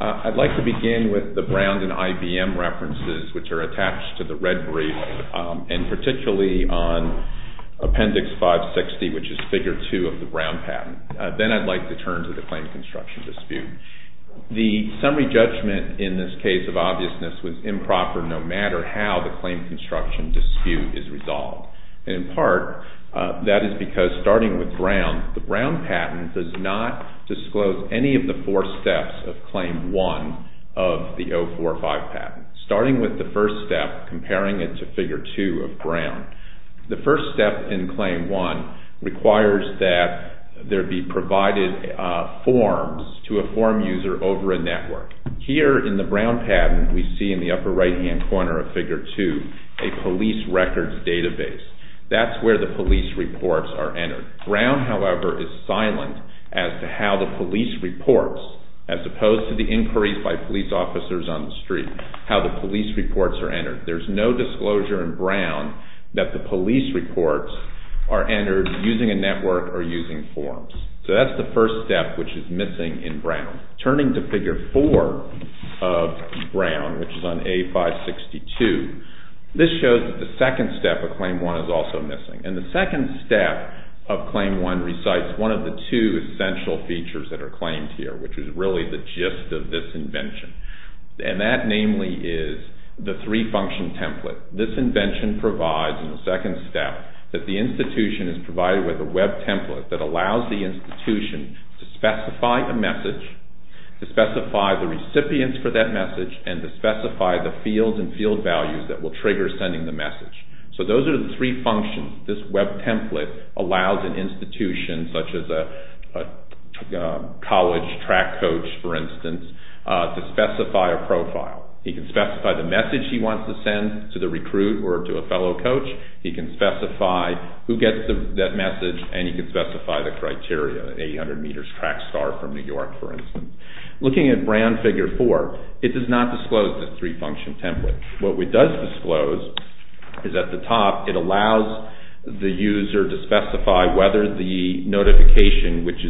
I'd like to begin with the Brown and IBM references, which are attached to the red brief, and particularly on Appendix 560, which is Figure 2 of the Brown patent. Then I'd like to turn to the claim construction dispute. The summary judgment in this case of obviousness was improper no matter how the claim construction dispute is resolved. In part, that is because starting with Brown, the Brown patent does not disclose any of the four steps of Claim 1 of the 045 patent. Starting with the first step, comparing it to Figure 2 of Brown, the first step in Claim 1 requires that there be provided forms to a form user over a network. Here in the Brown patent, we see in the upper right-hand corner of Figure 2 a police records database. That's where the police reports are entered. Brown, however, is silent as to how the police reports, as opposed to the inquiries by police officers on the street, how the police reports are entered. There's no disclosure in Brown that the police reports are entered using a network or using forms. So that's the first step which is missing in Brown. Turning to Figure 4 of Brown, which is on A562, this shows that the second step of Claim 1 is also missing. The second step of Claim 1 recites one of the two essential features that are claimed here, which is really the gist of this invention. And that, namely, is the three-function template. This invention provides, in the second step, that the institution is provided with a web template that allows the institution to specify a message, to specify the recipients for that message, and to specify the fields and field values that will trigger sending the message. So those are the three functions. This web template allows an institution, such as a college track coach, for instance, to specify a profile. He can specify the message he wants to send to the recruit or to a fellow coach. He can specify who gets that message, and he can specify the criteria, an 800 meters track start from New York, for instance. Looking at Brown Figure 4, it does not disclose the three-function template. What it does disclose is at the top, it allows the user to specify whether the notification, which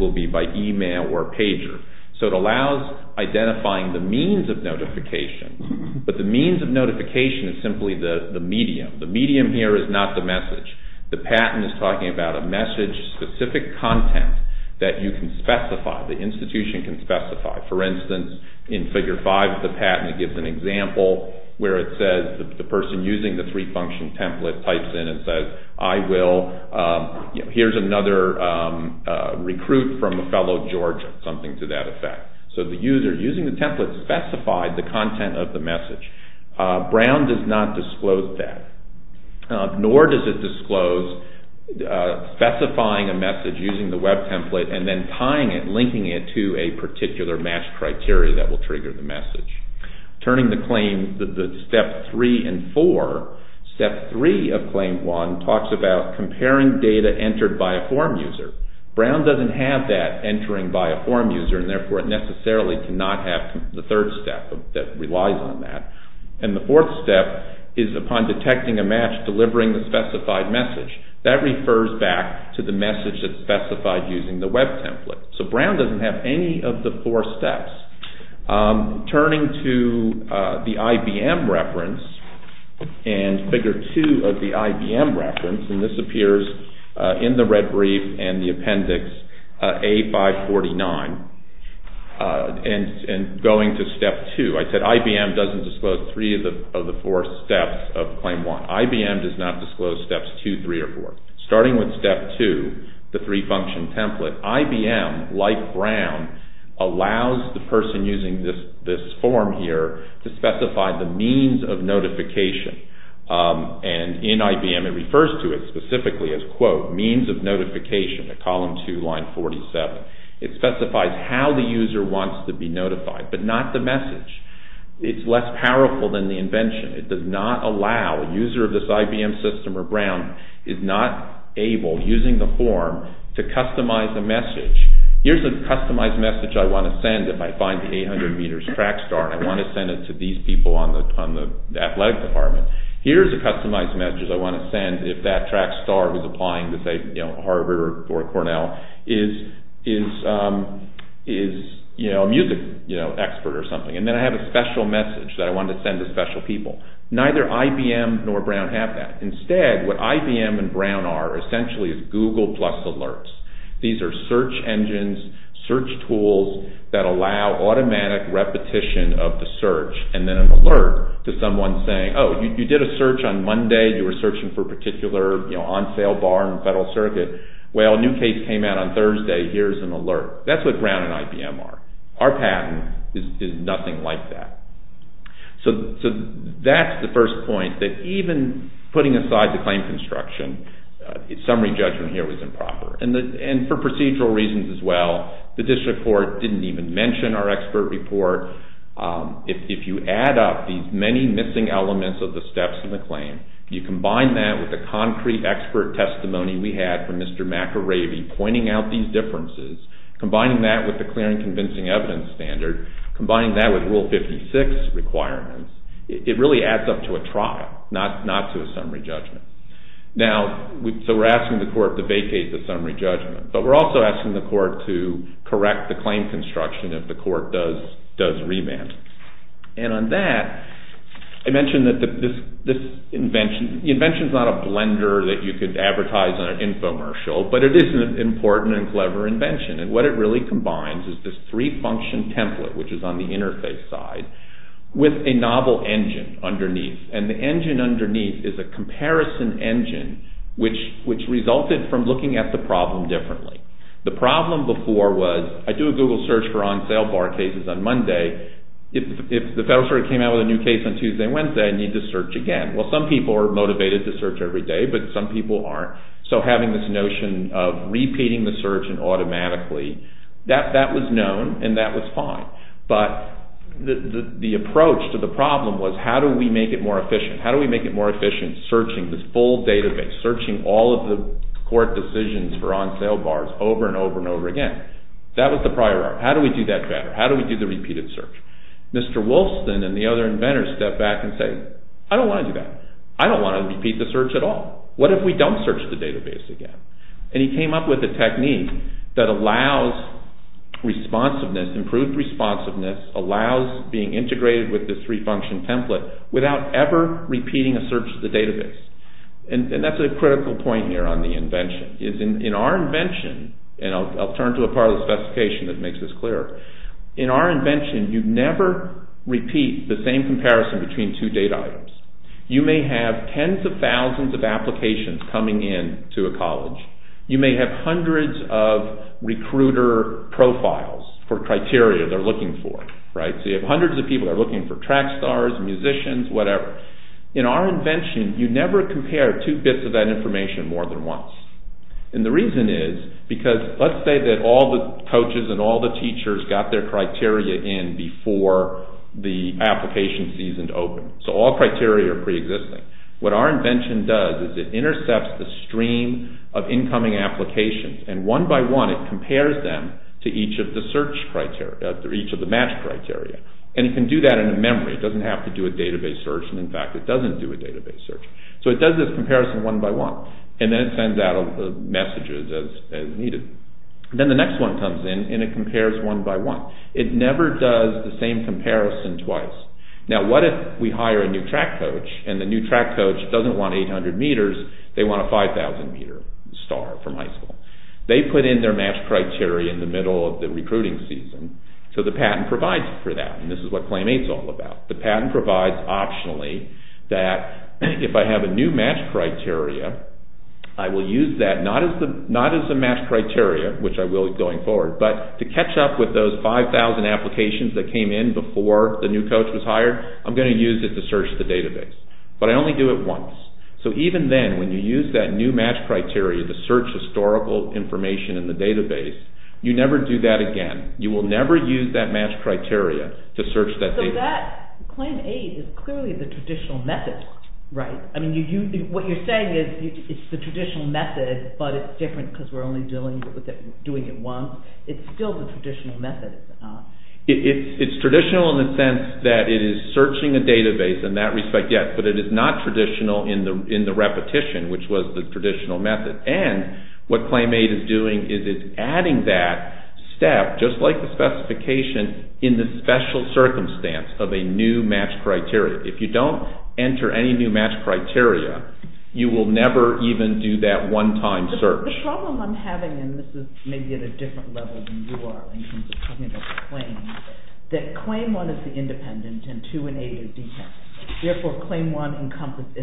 will be by email or pager. So it allows identifying the means of notification, but the means of notification is simply the medium. The medium here is not the message. The patent is talking about a message-specific content that you can specify, the institution can specify. For instance, in Figure 5 of the patent, it gives an example where it says the person using the three-function template types in and says, I will, here's another recruit from a fellow Georgia, something to that effect. So the user using the template specified the content of the message. Brown does not disclose that, nor does it disclose specifying a message using the web template and then tying it, linking it to a particular match criteria that will trigger the message. Turning the claim, the step three and four, step three of claim one talks about comparing data entered by a form user. Brown doesn't have that entering by a form user, and therefore it necessarily cannot have the third step that relies on that. And the fourth step is upon detecting a match, delivering the specified message. That refers back to the message that's specified using the web template. So Brown doesn't have any of the four steps. Turning to the IBM reference and Figure 2 of the IBM reference, and this appears in the red brief and the appendix A549, and going to step two, I said IBM doesn't disclose three of the four steps of claim one. IBM does not disclose steps two, three, or four. Starting with step two, the three-function template, IBM, like Brown, allows the person using this form here to specify the means of notification. And in IBM it refers to it specifically as, quote, means of notification at column two, line 47. It specifies how the user wants to be notified, but not the message. It's less powerful than the invention. It does not allow a user of this IBM system or Brown is not able, using the form, to customize the message. Here's a customized message I want to send if I find the 800 meters track star, and I want to send it to these people on the athletic department. Here's a customized message I want to send if that track star was applying to, say, Harvard or Cornell, is a music expert or something. And then I have a special message that I want to send to special people. Neither IBM nor Brown have that. Instead, what IBM and Brown are essentially is Google plus alerts. These are search engines, search tools that allow automatic repetition of the search, and then an alert to someone saying, oh, you did a search on Monday. You were searching for a particular on-sale bar in the Federal Circuit. Well, a new case came out on Thursday. Here's an alert. That's what Brown and IBM are. Our patent is nothing like that. So that's the first point, that even putting aside the claim construction, summary judgment here was improper, and for procedural reasons as well. The district court didn't even mention our expert report. If you add up these many missing elements of the steps in the claim, you combine that with the concrete expert testimony we had from Mr. McAravey pointing out these differences, combining that with the clear and convincing evidence standard, combining that with Rule 56 requirements, it really adds up to a trial, not to a summary judgment. So we're asking the court to vacate the summary judgment, but we're also asking the court to correct the claim construction if the court does remand. And on that, I mentioned that this invention, the invention's not a blender that you could advertise on an infomercial, but it is an important and clever invention, and what it really combines is this three-function template, which is on the interface side, with a novel engine underneath, and the engine underneath is a comparison engine, which resulted from looking at the problem differently. The problem before was, I do a Google search for on-sale bar cases on Monday, if the Federal Circuit came out with a new case on Tuesday and Wednesday, I need to search again. Well, some people are motivated to search every day, but some people aren't, so having this notion of repeating the search and automatically, that was known, and that was fine. But the approach to the problem was, how do we make it more efficient? How do we make it more efficient searching this full database, searching all of the court decisions for on-sale bars over and over and over again? That was the prior art. How do we do that better? How do we do the repeated search? Mr. Wolfson and the other inventors stepped back and said, I don't want to do that. I don't want to repeat the search at all. What if we don't search the database again? And he came up with a technique that allows responsiveness, improved responsiveness, allows being integrated with this three-function template without ever repeating a search of the database. And that's a critical point here on the invention. In our invention, and I'll turn to a part of the specification that makes this clearer, in our invention, you never repeat the same comparison between two data items. You may have tens of thousands of applications coming in to a college. You may have hundreds of recruiter profiles for criteria they're looking for. So you have hundreds of people that are looking for track stars, musicians, whatever. In our invention, you never compare two bits of that information more than once. And the reason is, because let's say that all the coaches and all the teachers got their criteria in before the application season opened. So all criteria are pre-existing. What our invention does is it intercepts the stream of incoming applications. And one by one, it compares them to each of the search criteria, each of the match criteria. And it can do that in a memory. It doesn't have to do a database search. And in fact, it doesn't do a database search. So it does this comparison one by one. And then it sends out the messages as needed. Then the next one comes in and it compares one by one. It never does the same comparison twice. Now what if we hire a new track coach? And the new track coach doesn't want 800 meters. They want a 5,000 meter star from high school. They put in their match criteria in the middle of the recruiting season. So the patent provides for that. And this is what Claim 8 is all about. The patent provides optionally that if I have a new match criteria, I will use that not as a match criteria, which I will going forward, but to catch up with those 5,000 applications that came in before the new coach was hired, I'm going to use it to search the database. But I only do it once. So even then, when you use that new match criteria to search historical information in the database, you never do that again. You will never use that match criteria to search that database. So that Claim 8 is clearly the traditional method, right? What you're saying is it's the traditional method, but it's different because we're only doing it once. It's still the traditional method. It's traditional in the sense that it is searching a database in that respect, yes, but it is not traditional in the repetition, which was the traditional method. And what Claim 8 is doing is it's adding that step, just like the specification, in the special circumstance of a new match criteria. If you don't enter any new match criteria, you will never even do that one-time search. The problem I'm having, and this is maybe at a different level than you are in terms of talking about claims, that Claim 1 is the independent and 2 and 8 are detailed. Therefore, Claim 1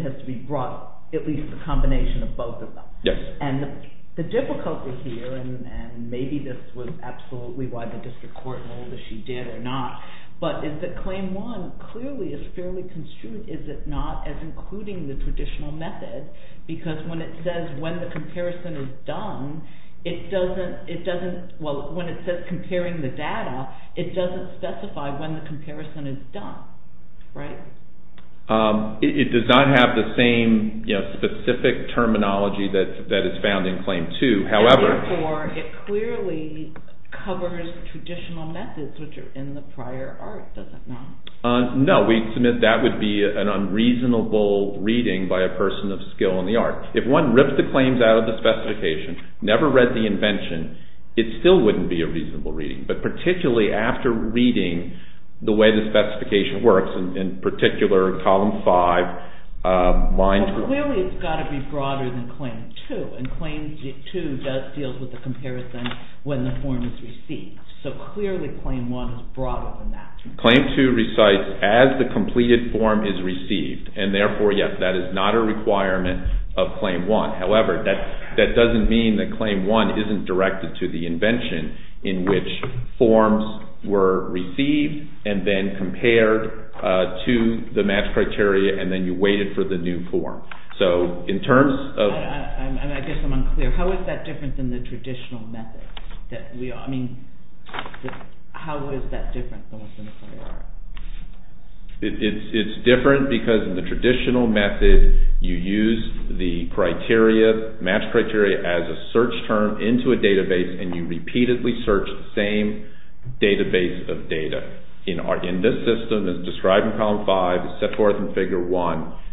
has to be brought, at least the combination of both of them. Yes. And the difficulty here, and maybe this was absolutely why the district court ruled that she did or not, but is that Claim 1 clearly is fairly construed, is it not, as including the traditional method? Because when it says when the comparison is done, it doesn't, well, when it says comparing the data, it doesn't specify when the comparison is done, right? It does not have the same specific terminology that is found in Claim 2. Therefore, it clearly covers traditional methods, which are in the prior art, does it not? No, we submit that would be an unreasonable reading by a person of skill in the art. If one ripped the claims out of the specification, never read the invention, it still wouldn't be a reasonable reading, but particularly after reading the way the specification works, in particular, Column 5. Well, clearly it's got to be broader than Claim 2, and Claim 2 does deal with the comparison when the form is received. So clearly Claim 1 is broader than that. Claim 2 recites as the completed form is received, and therefore, yes, that is not a requirement of Claim 1. However, that doesn't mean that Claim 1 isn't directed to the invention in which forms were received and then compared to the match criteria, and then you waited for the new form. So in terms of- I guess I'm unclear. How is that different than the traditional method? I mean, how is that different than what's in the prior art? It's different because in the traditional method, you use the criteria, match criteria as a search term into a database, and you repeatedly search the same database of data. In this system, as described in Column 5, set forth in Figure 1,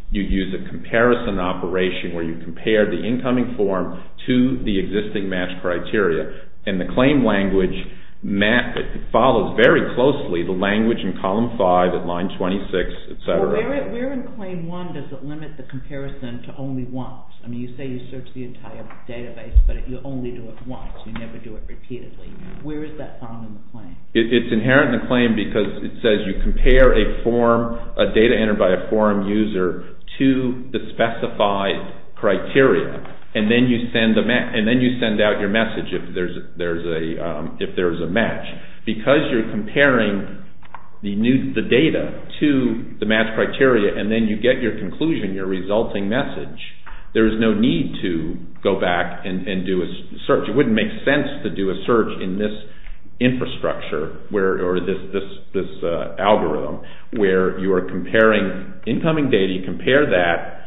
you use a comparison operation where you compare the incoming form to the existing match criteria, and the claim language follows very closely the language in Column 5 at Line 26, et cetera. Well, where in Claim 1 does it limit the comparison to only once? I mean, you say you search the entire database, but you only do it once. You never do it repeatedly. Where is that found in the claim? It's inherent in the claim because it says you compare a form, a data entered by a forum user, to the specified criteria, and then you send out your message if there's a match. Because you're comparing the data to the match criteria, and then you get your conclusion, your resulting message, there is no need to go back and do a search. It wouldn't make sense to do a search in this infrastructure or this algorithm where you are comparing incoming data, you compare that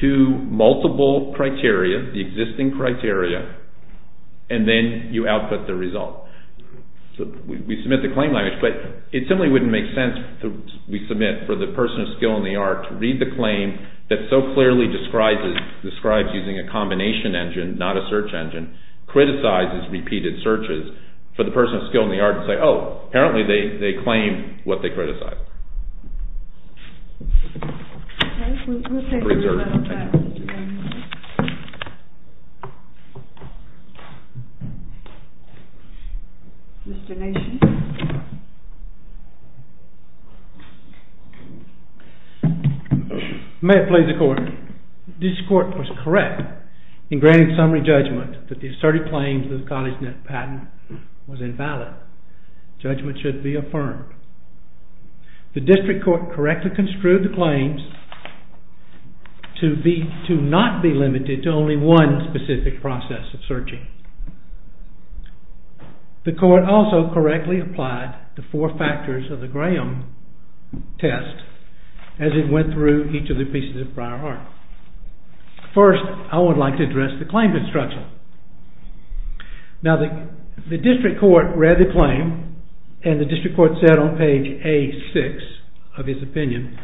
to multiple criteria, the existing criteria, and then you output the result. We submit the claim language, but it simply wouldn't make sense, we submit, for the person of skill and the art to read the claim that so clearly describes using a combination engine, not a search engine, criticizes repeated searches, for the person of skill and the art to say, oh, apparently they claimed what they criticized. Okay, we'll take a readout of that. Mr. Nation? May it please the Court. This Court was correct in granting summary judgment that the asserted claims of the CollegeNet patent was invalid. Judgment should be affirmed. The District Court correctly construed the claims to not be limited to only one specific process of searching. The Court also correctly applied the four factors of the Graham test as it went through each of the pieces of prior art. First, I would like to address the claims instruction. Now, the District Court read the claim, and the District Court said on page A6 of its opinion,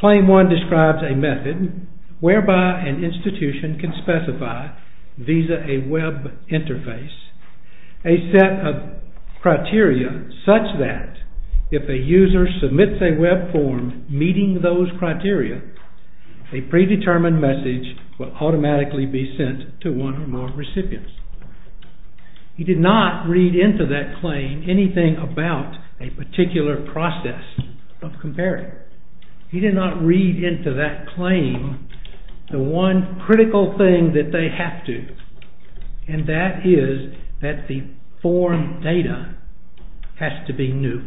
Claim 1 describes a method whereby an institution can specify, visa a web interface, a set of criteria such that if a user submits a web form meeting those criteria, a predetermined message will automatically be sent to one or more recipients. He did not read into that claim anything about a particular process of comparing. He did not read into that claim the one critical thing that they have to, and that is that the form data has to be new.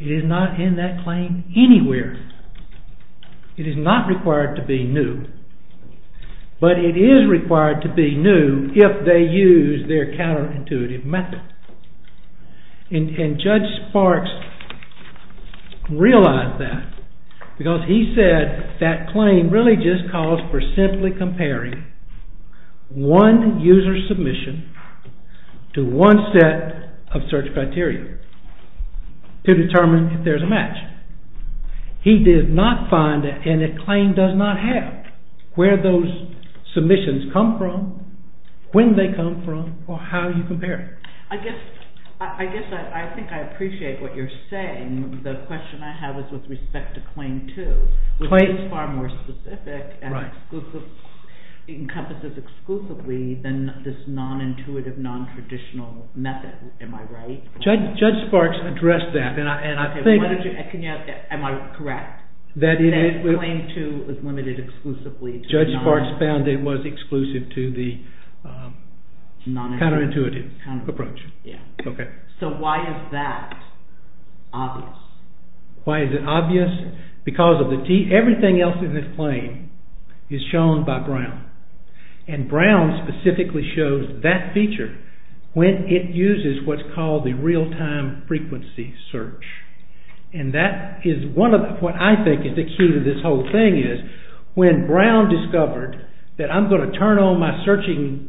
It is not in that claim anywhere. It is not required to be new, but it is required to be new if they use their counterintuitive method. And Judge Sparks realized that because he said that claim really just calls for simply comparing one user submission to one set of search criteria to determine if there is a match. He did not find, and the claim does not have, where those submissions come from, when they come from, or how you compare it. I guess I think I appreciate what you are saying. The question I have is with respect to Claim 2. It is far more specific and encompasses exclusively than this non-intuitive, non-traditional method. Am I right? Judge Sparks addressed that, and I think... Am I correct? That Claim 2 is limited exclusively to... Judge Sparks found it was exclusive to the counterintuitive approach. So why is that obvious? Why is it obvious? Because everything else in this claim is shown by Brown. And Brown specifically shows that feature when it uses what is called the real-time frequency search. And that is what I think is the key to this whole thing is when Brown discovered that I am going to turn on my searching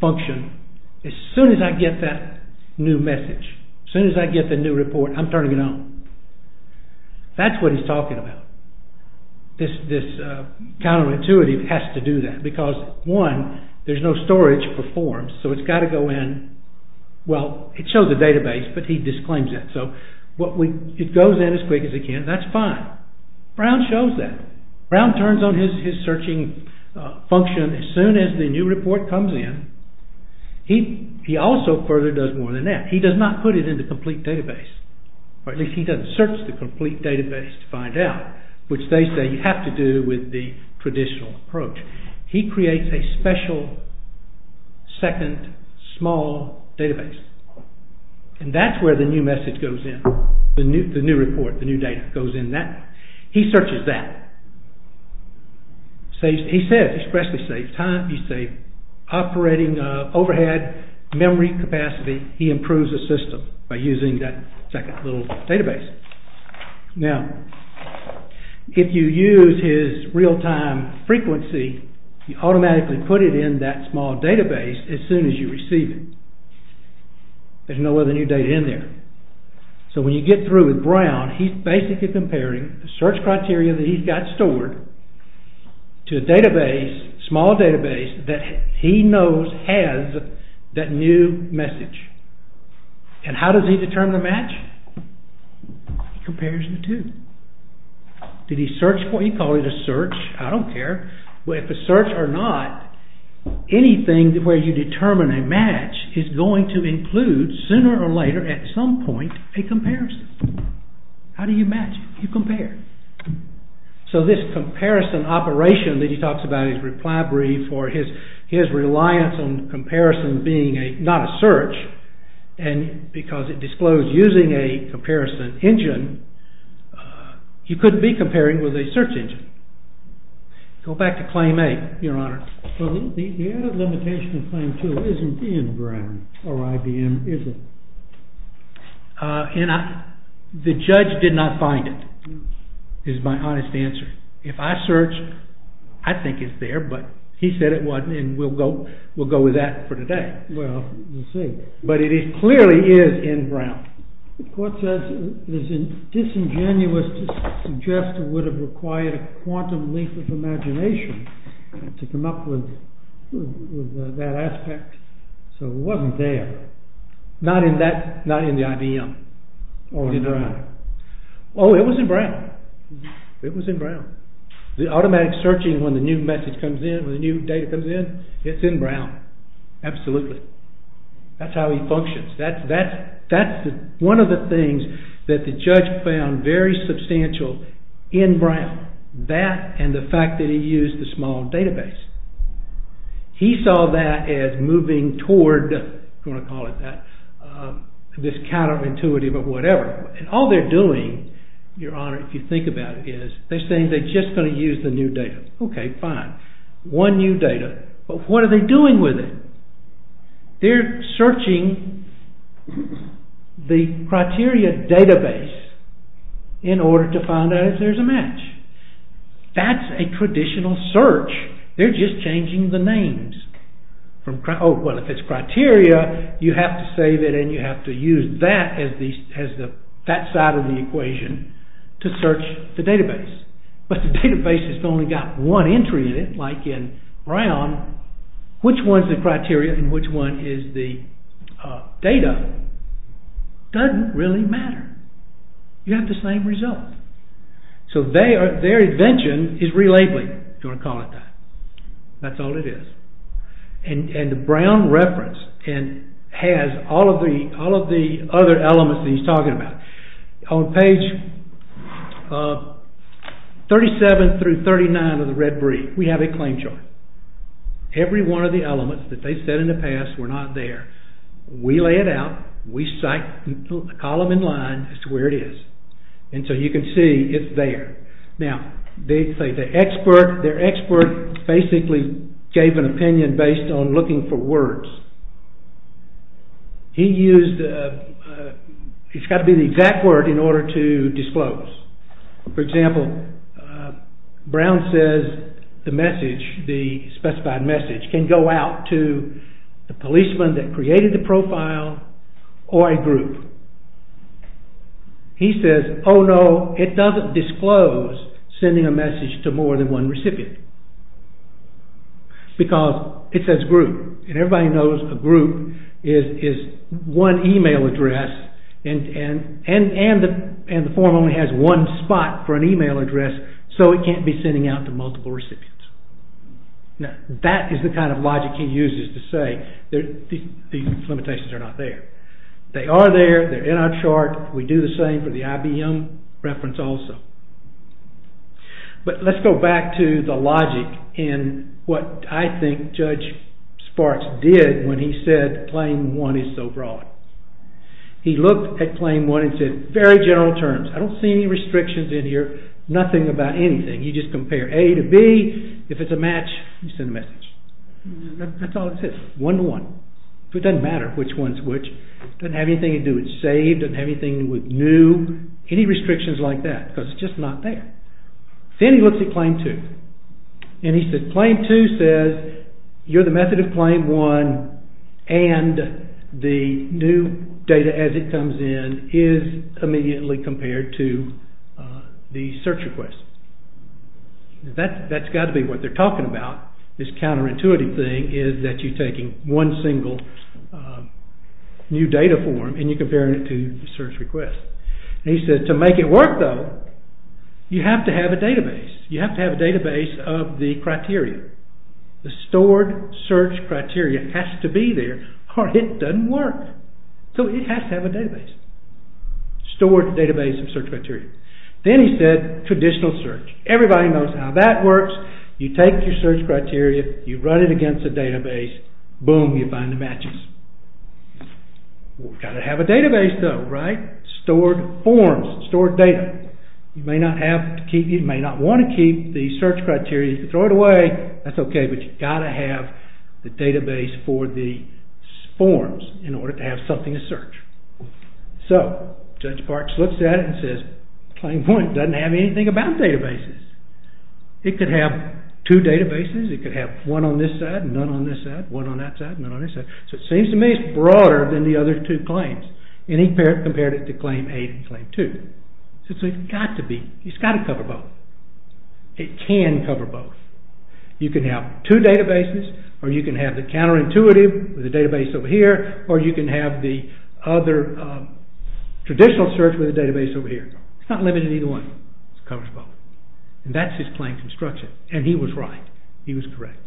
function as soon as I get that new message, as soon as I get the new report, I am turning it on. That is what he is talking about. This counterintuitive has to do that. Because, one, there is no storage for forms, so it has got to go in. Well, it shows the database, but he disclaims it. So, it goes in as quick as it can. That is fine. Brown shows that. Brown turns on his searching function as soon as the new report comes in. He also further does more than that. He does not put it in the complete database. Or at least he does not search the complete database to find out, which they say you have to do with the traditional approach. He creates a special, second, small database. And that is where the new message goes in. The new report, the new data goes in that. He searches that. He says, expressly saves time. He saves operating overhead, memory capacity. He improves the system by using that second little database. Now, if you use his real-time frequency, you automatically put it in that small database as soon as you receive it. There is no other new data in there. So, when you get through with Brown, he is basically comparing the search criteria that he has got stored to a small database that he knows has that new message. And how does he determine the match? He compares the two. Did he search for it? He called it a search. I do not care. If a search or not, anything where you determine a match is going to include, sooner or later, at some point, a comparison. How do you match? You compare. So, this comparison operation that he talks about, his reply brief or his reliance on comparison being not a search, and because it disclosed using a comparison engine, he could not be comparing with a search engine. Go back to Claim A, Your Honor. The added limitation of Claim 2 is not in Brown or IBM, is it? The judge did not find it. That is my honest answer. If I search, I think it is there, but he said it was not, and we will go with that for today. Well, we will see. But it clearly is in Brown. The court says it is disingenuous to suggest it would have required a quantum leap of imagination to come up with that aspect. So, it was not there. Not in the IBM? Oh, it was in Brown. It was in Brown. The automatic searching when the new message comes in, when the new data comes in, it is in Brown. Absolutely. That is how he functions. That is one of the things that the judge found very substantial in Brown. That and the fact that he used the small database. He saw that as moving toward, I am going to call it that, this counter-intuitive of whatever. And all they are doing, Your Honor, if you think about it, is they are saying they are just going to use the new data. Okay, fine. One new data. But what are they doing with it? They are searching the criteria database in order to find out if there is a match. That is a traditional search. They are just changing the names. Well, if it is criteria, you have to save it and you have to use that side of the equation to search the database. But the database has only got one entry in it, like in Brown, which one is the criteria and which one is the data does not really matter. You have the same result. So, their invention is relabeling. You want to call it that. That is all it is. And the Brown reference has all of the other elements that he is talking about. On page 37 through 39 of the red brief, we have a claim chart. Every one of the elements that they said in the past were not there. We lay it out. We cite the column in line as to where it is. And so you can see it is there. Now, their expert basically gave an opinion based on looking for words. He used, it has got to be the exact word in order to disclose. For example, Brown says the message, the specified message, or a group. He says, oh no, it does not disclose sending a message to more than one recipient. Because it says group. And everybody knows a group is one email address and the form only has one spot for an email address so it cannot be sending out to multiple recipients. Now, that is the kind of logic he uses to say these limitations are not there. They are there. They are in our chart. We do the same for the IBM reference also. But let's go back to the logic in what I think Judge Sparks did when he said claim one is so broad. He looked at claim one and said very general terms. I do not see any restrictions in here. Nothing about anything. You just compare A to B. If it is a match, you send a message. That is all it says. One to one. It does not matter which one is which. It does not have anything to do with save. It does not have anything to do with new. Any restrictions like that. Because it is just not there. Then he looks at claim two. And he says claim two says you are the method of claim one and the new data as it comes in is immediately compared to the search request. That has got to be what they are talking about. This counterintuitive thing is that you are taking one single new data form and you are comparing it to the search request. He said to make it work though, you have to have a database. You have to have a database of the criteria. The stored search criteria has to be there or it does not work. So it has to have a database. Stored database of search criteria. Then he said traditional search. Everybody knows how that works. You take your search criteria. You run it against the database. Boom, you find the matches. You have to have a database though. Stored forms. Stored data. You may not want to keep the search criteria. You can throw it away. That is okay. But you have to have the database for the forms in order to have something to search. So Judge Parks looks at it and says claim one does not have anything about databases. It could have two databases. It could have one on this side and none on this side. One on that side and none on this side. So it seems to me it is broader than the other two claims. And he compared it to claim eight and claim two. So it has got to cover both. It can cover both. You can have two databases or you can have the counterintuitive with a database over here or you can have the other traditional search with a database over here. It is not limited to either one. It covers both. And that is his claim construction. And he was right. He was correct.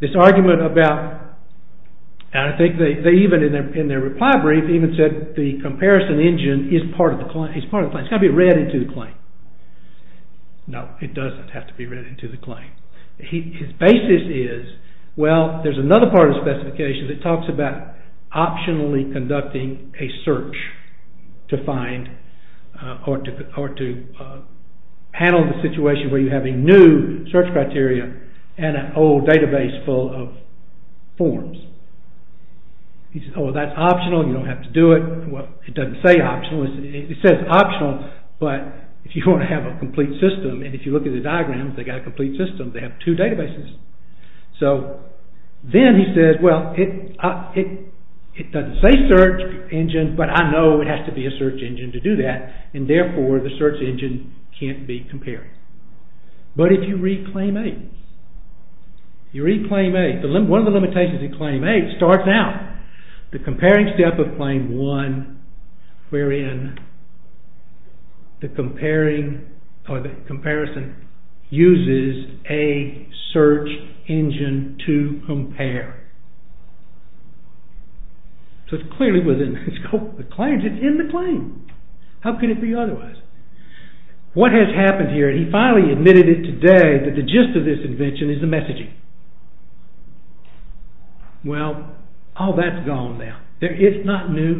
This argument about and I think they even in their reply brief even said the comparison engine is part of the claim. It has got to be read into the claim. No, it does not have to be read into the claim. His basis is well, there is another part of the specification that talks about optionally conducting a search to find or to handle the situation where you have a new search criteria and an old database full of forms. He said, oh, that is optional. You do not have to do it. Well, it does not say optional. It says optional but if you want to have a complete system and if you look at the diagrams they have got a complete system. They have two databases. So then he says, well, it does not say search engine but I know it has to be a search engine to do that. And therefore the search engine cannot be compared. But if you read Claim 8 you read Claim 8 one of the limitations of Claim 8 starts now. The comparing step of Claim 1 wherein the comparison uses a search engine to compare. So clearly within the scope of the claim it is in the claim. How could it be otherwise? What has happened here? He finally admitted it today that the gist of this invention is the messaging. Well, all that is gone now. It is not new.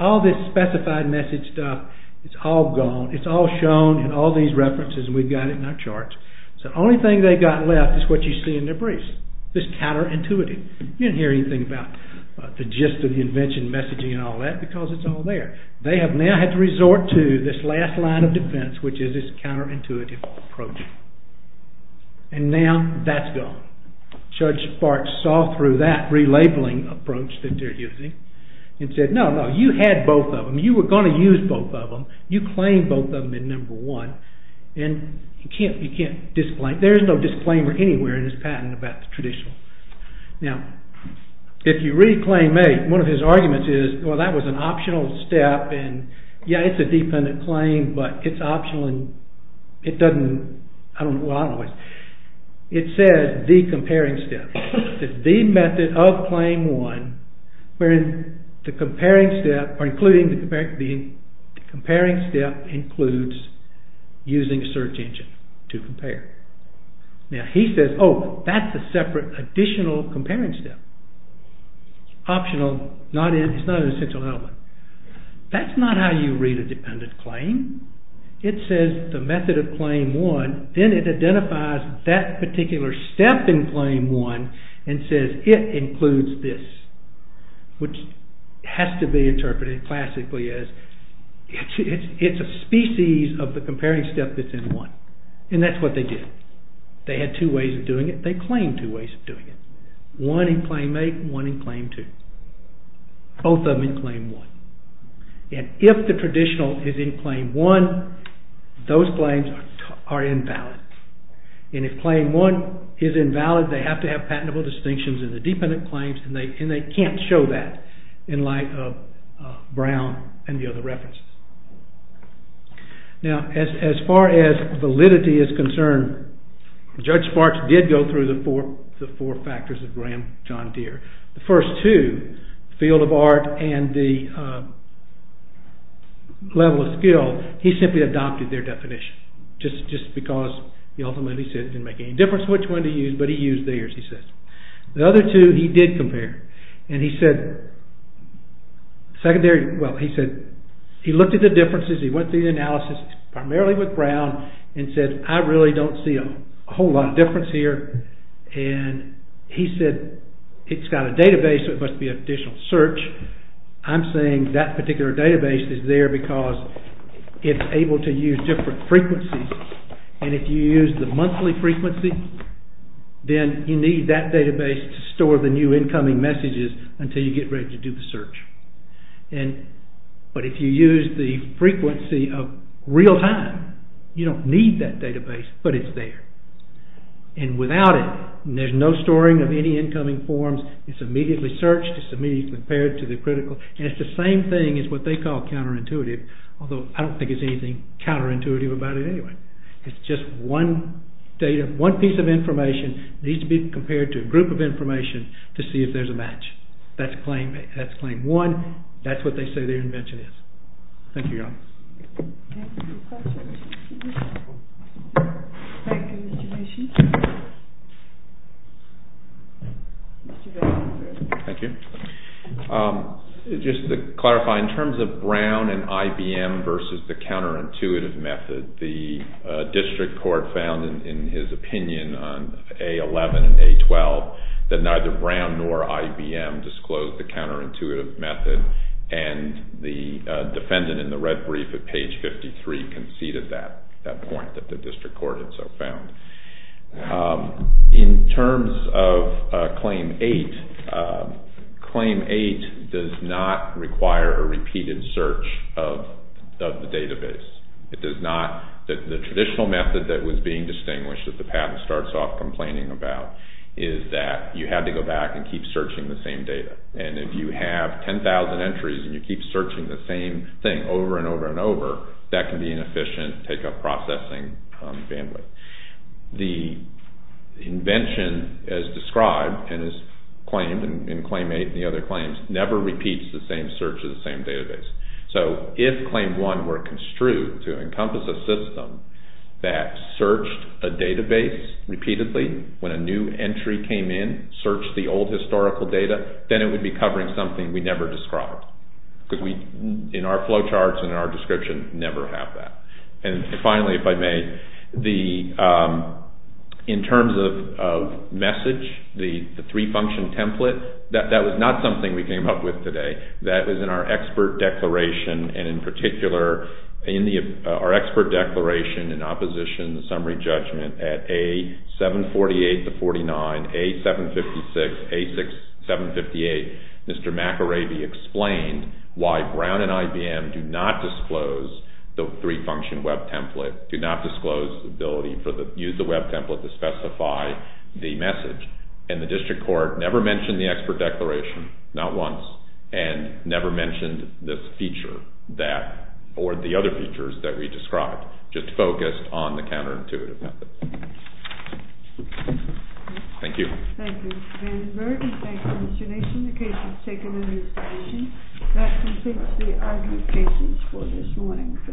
All this specified message stuff is all gone. It is all shown in all these references and we have got it in our charts. So the only thing they have got left is what you see in their briefs. This counter-intuitive. You did not hear anything about the gist of the invention messaging and all that because it is all there. They have now had to resort to this last line of defense which is this counter-intuitive approach. And now that is gone. Judge Barks saw through that relabeling approach that they are using and said, no, no, you had both of them. You were going to use both of them. You claimed both of them in Number 1 and you cannot disclaim. There is no disclaimer anywhere in this patent about the traditional. Now, if you read Claim 8 one of his arguments is well, that was an optional step and yeah, it is a dependent claim but it is optional and it does not well, I do not know what it is. It says the comparing step. The method of Claim 1 wherein the comparing step or including the comparing step includes using search engine to compare. Now, he says, oh, that is a separate additional comparing step. Optional, it is not an essential element. That is not how you read a dependent claim. It says the method of Claim 1 then it identifies that particular step in Claim 1 and says it includes this which has to be interpreted classically as it is a species of the comparing step that is in 1. And that is what they did. They had two ways of doing it. They claimed two ways of doing it. One in Claim 8 and one in Claim 2. Both of them in Claim 1. And if the traditional is in Claim 1 those claims are invalid. And if Claim 1 is invalid they have to have patentable distinctions in the dependent claims and they cannot show that in light of Brown and the other references. Now, as far as validity is concerned Judge Sparks did go through the four factors of Graham John Deere. The first two, field of art and the level of skill he simply adopted their definition. Just because he ultimately said it didn't make any difference which one to use but he used theirs he said. The other two he did compare. And he said secondary, well he said he looked at the differences he went through the analysis primarily with Brown and said I really don't see a whole lot of difference here and he said it's got a database so it must be an additional search. I'm saying that particular database is there because it's able to use different frequencies and if you use the monthly frequency then you need that database to store the new incoming messages until you get ready to do the search. But if you use the frequency of real time you don't need that database but it's there. And without it there's no storing of any incoming forms it's immediately searched it's immediately compared to the critical and it's the same thing as what they call counterintuitive although I don't think it's anything counterintuitive about it anyway. It's just one piece of information that needs to be compared to a group of information to see if there's a match. That's claim one that's what they say their invention is. Thank you. Thank you. Just to clarify in terms of Brown and IBM versus the counterintuitive method the district court found in his opinion on A11 and A12 that neither Brown nor IBM disclosed the counterintuitive method and the defendant in the red brief at page 53 conceded that point that the district court had so found. In terms of claim eight claim eight does not require a repeated search of the database. It does not the traditional method that was being distinguished that the patent starts off complaining about is that you have to go back and keep searching the same data and if you have 10,000 entries and you keep searching the same thing over and over and over that can be inefficient take up processing bandwidth. The invention as described and is claimed in claim eight and the other claims never repeats the same search of the same database. So if claim one were construed to encompass a system that searched a database repeatedly when a new entry came in searched the old historical data then it would be covering something we never described. In our flow charts and in our description never have that. And finally if I may in terms of message the three function template that was not something we came up with today. That was in our expert declaration and in particular in our expert declaration in opposition summary judgment at A748-49 and A756-A6758 Mr. McIravey explained why Brown and IBM do not disclose the three function web template do not disclose the ability to use the web template to specify the message and the district court never mentioned the expert declaration not once and never mentioned this feature that or the other features that we described just focused on the counterintuitive method. Thank you. Thank you Mr. Vandenberg and thank you Mr. Nation the case is taken into consideration that concludes the argument cases for this morning for this panel. All rise.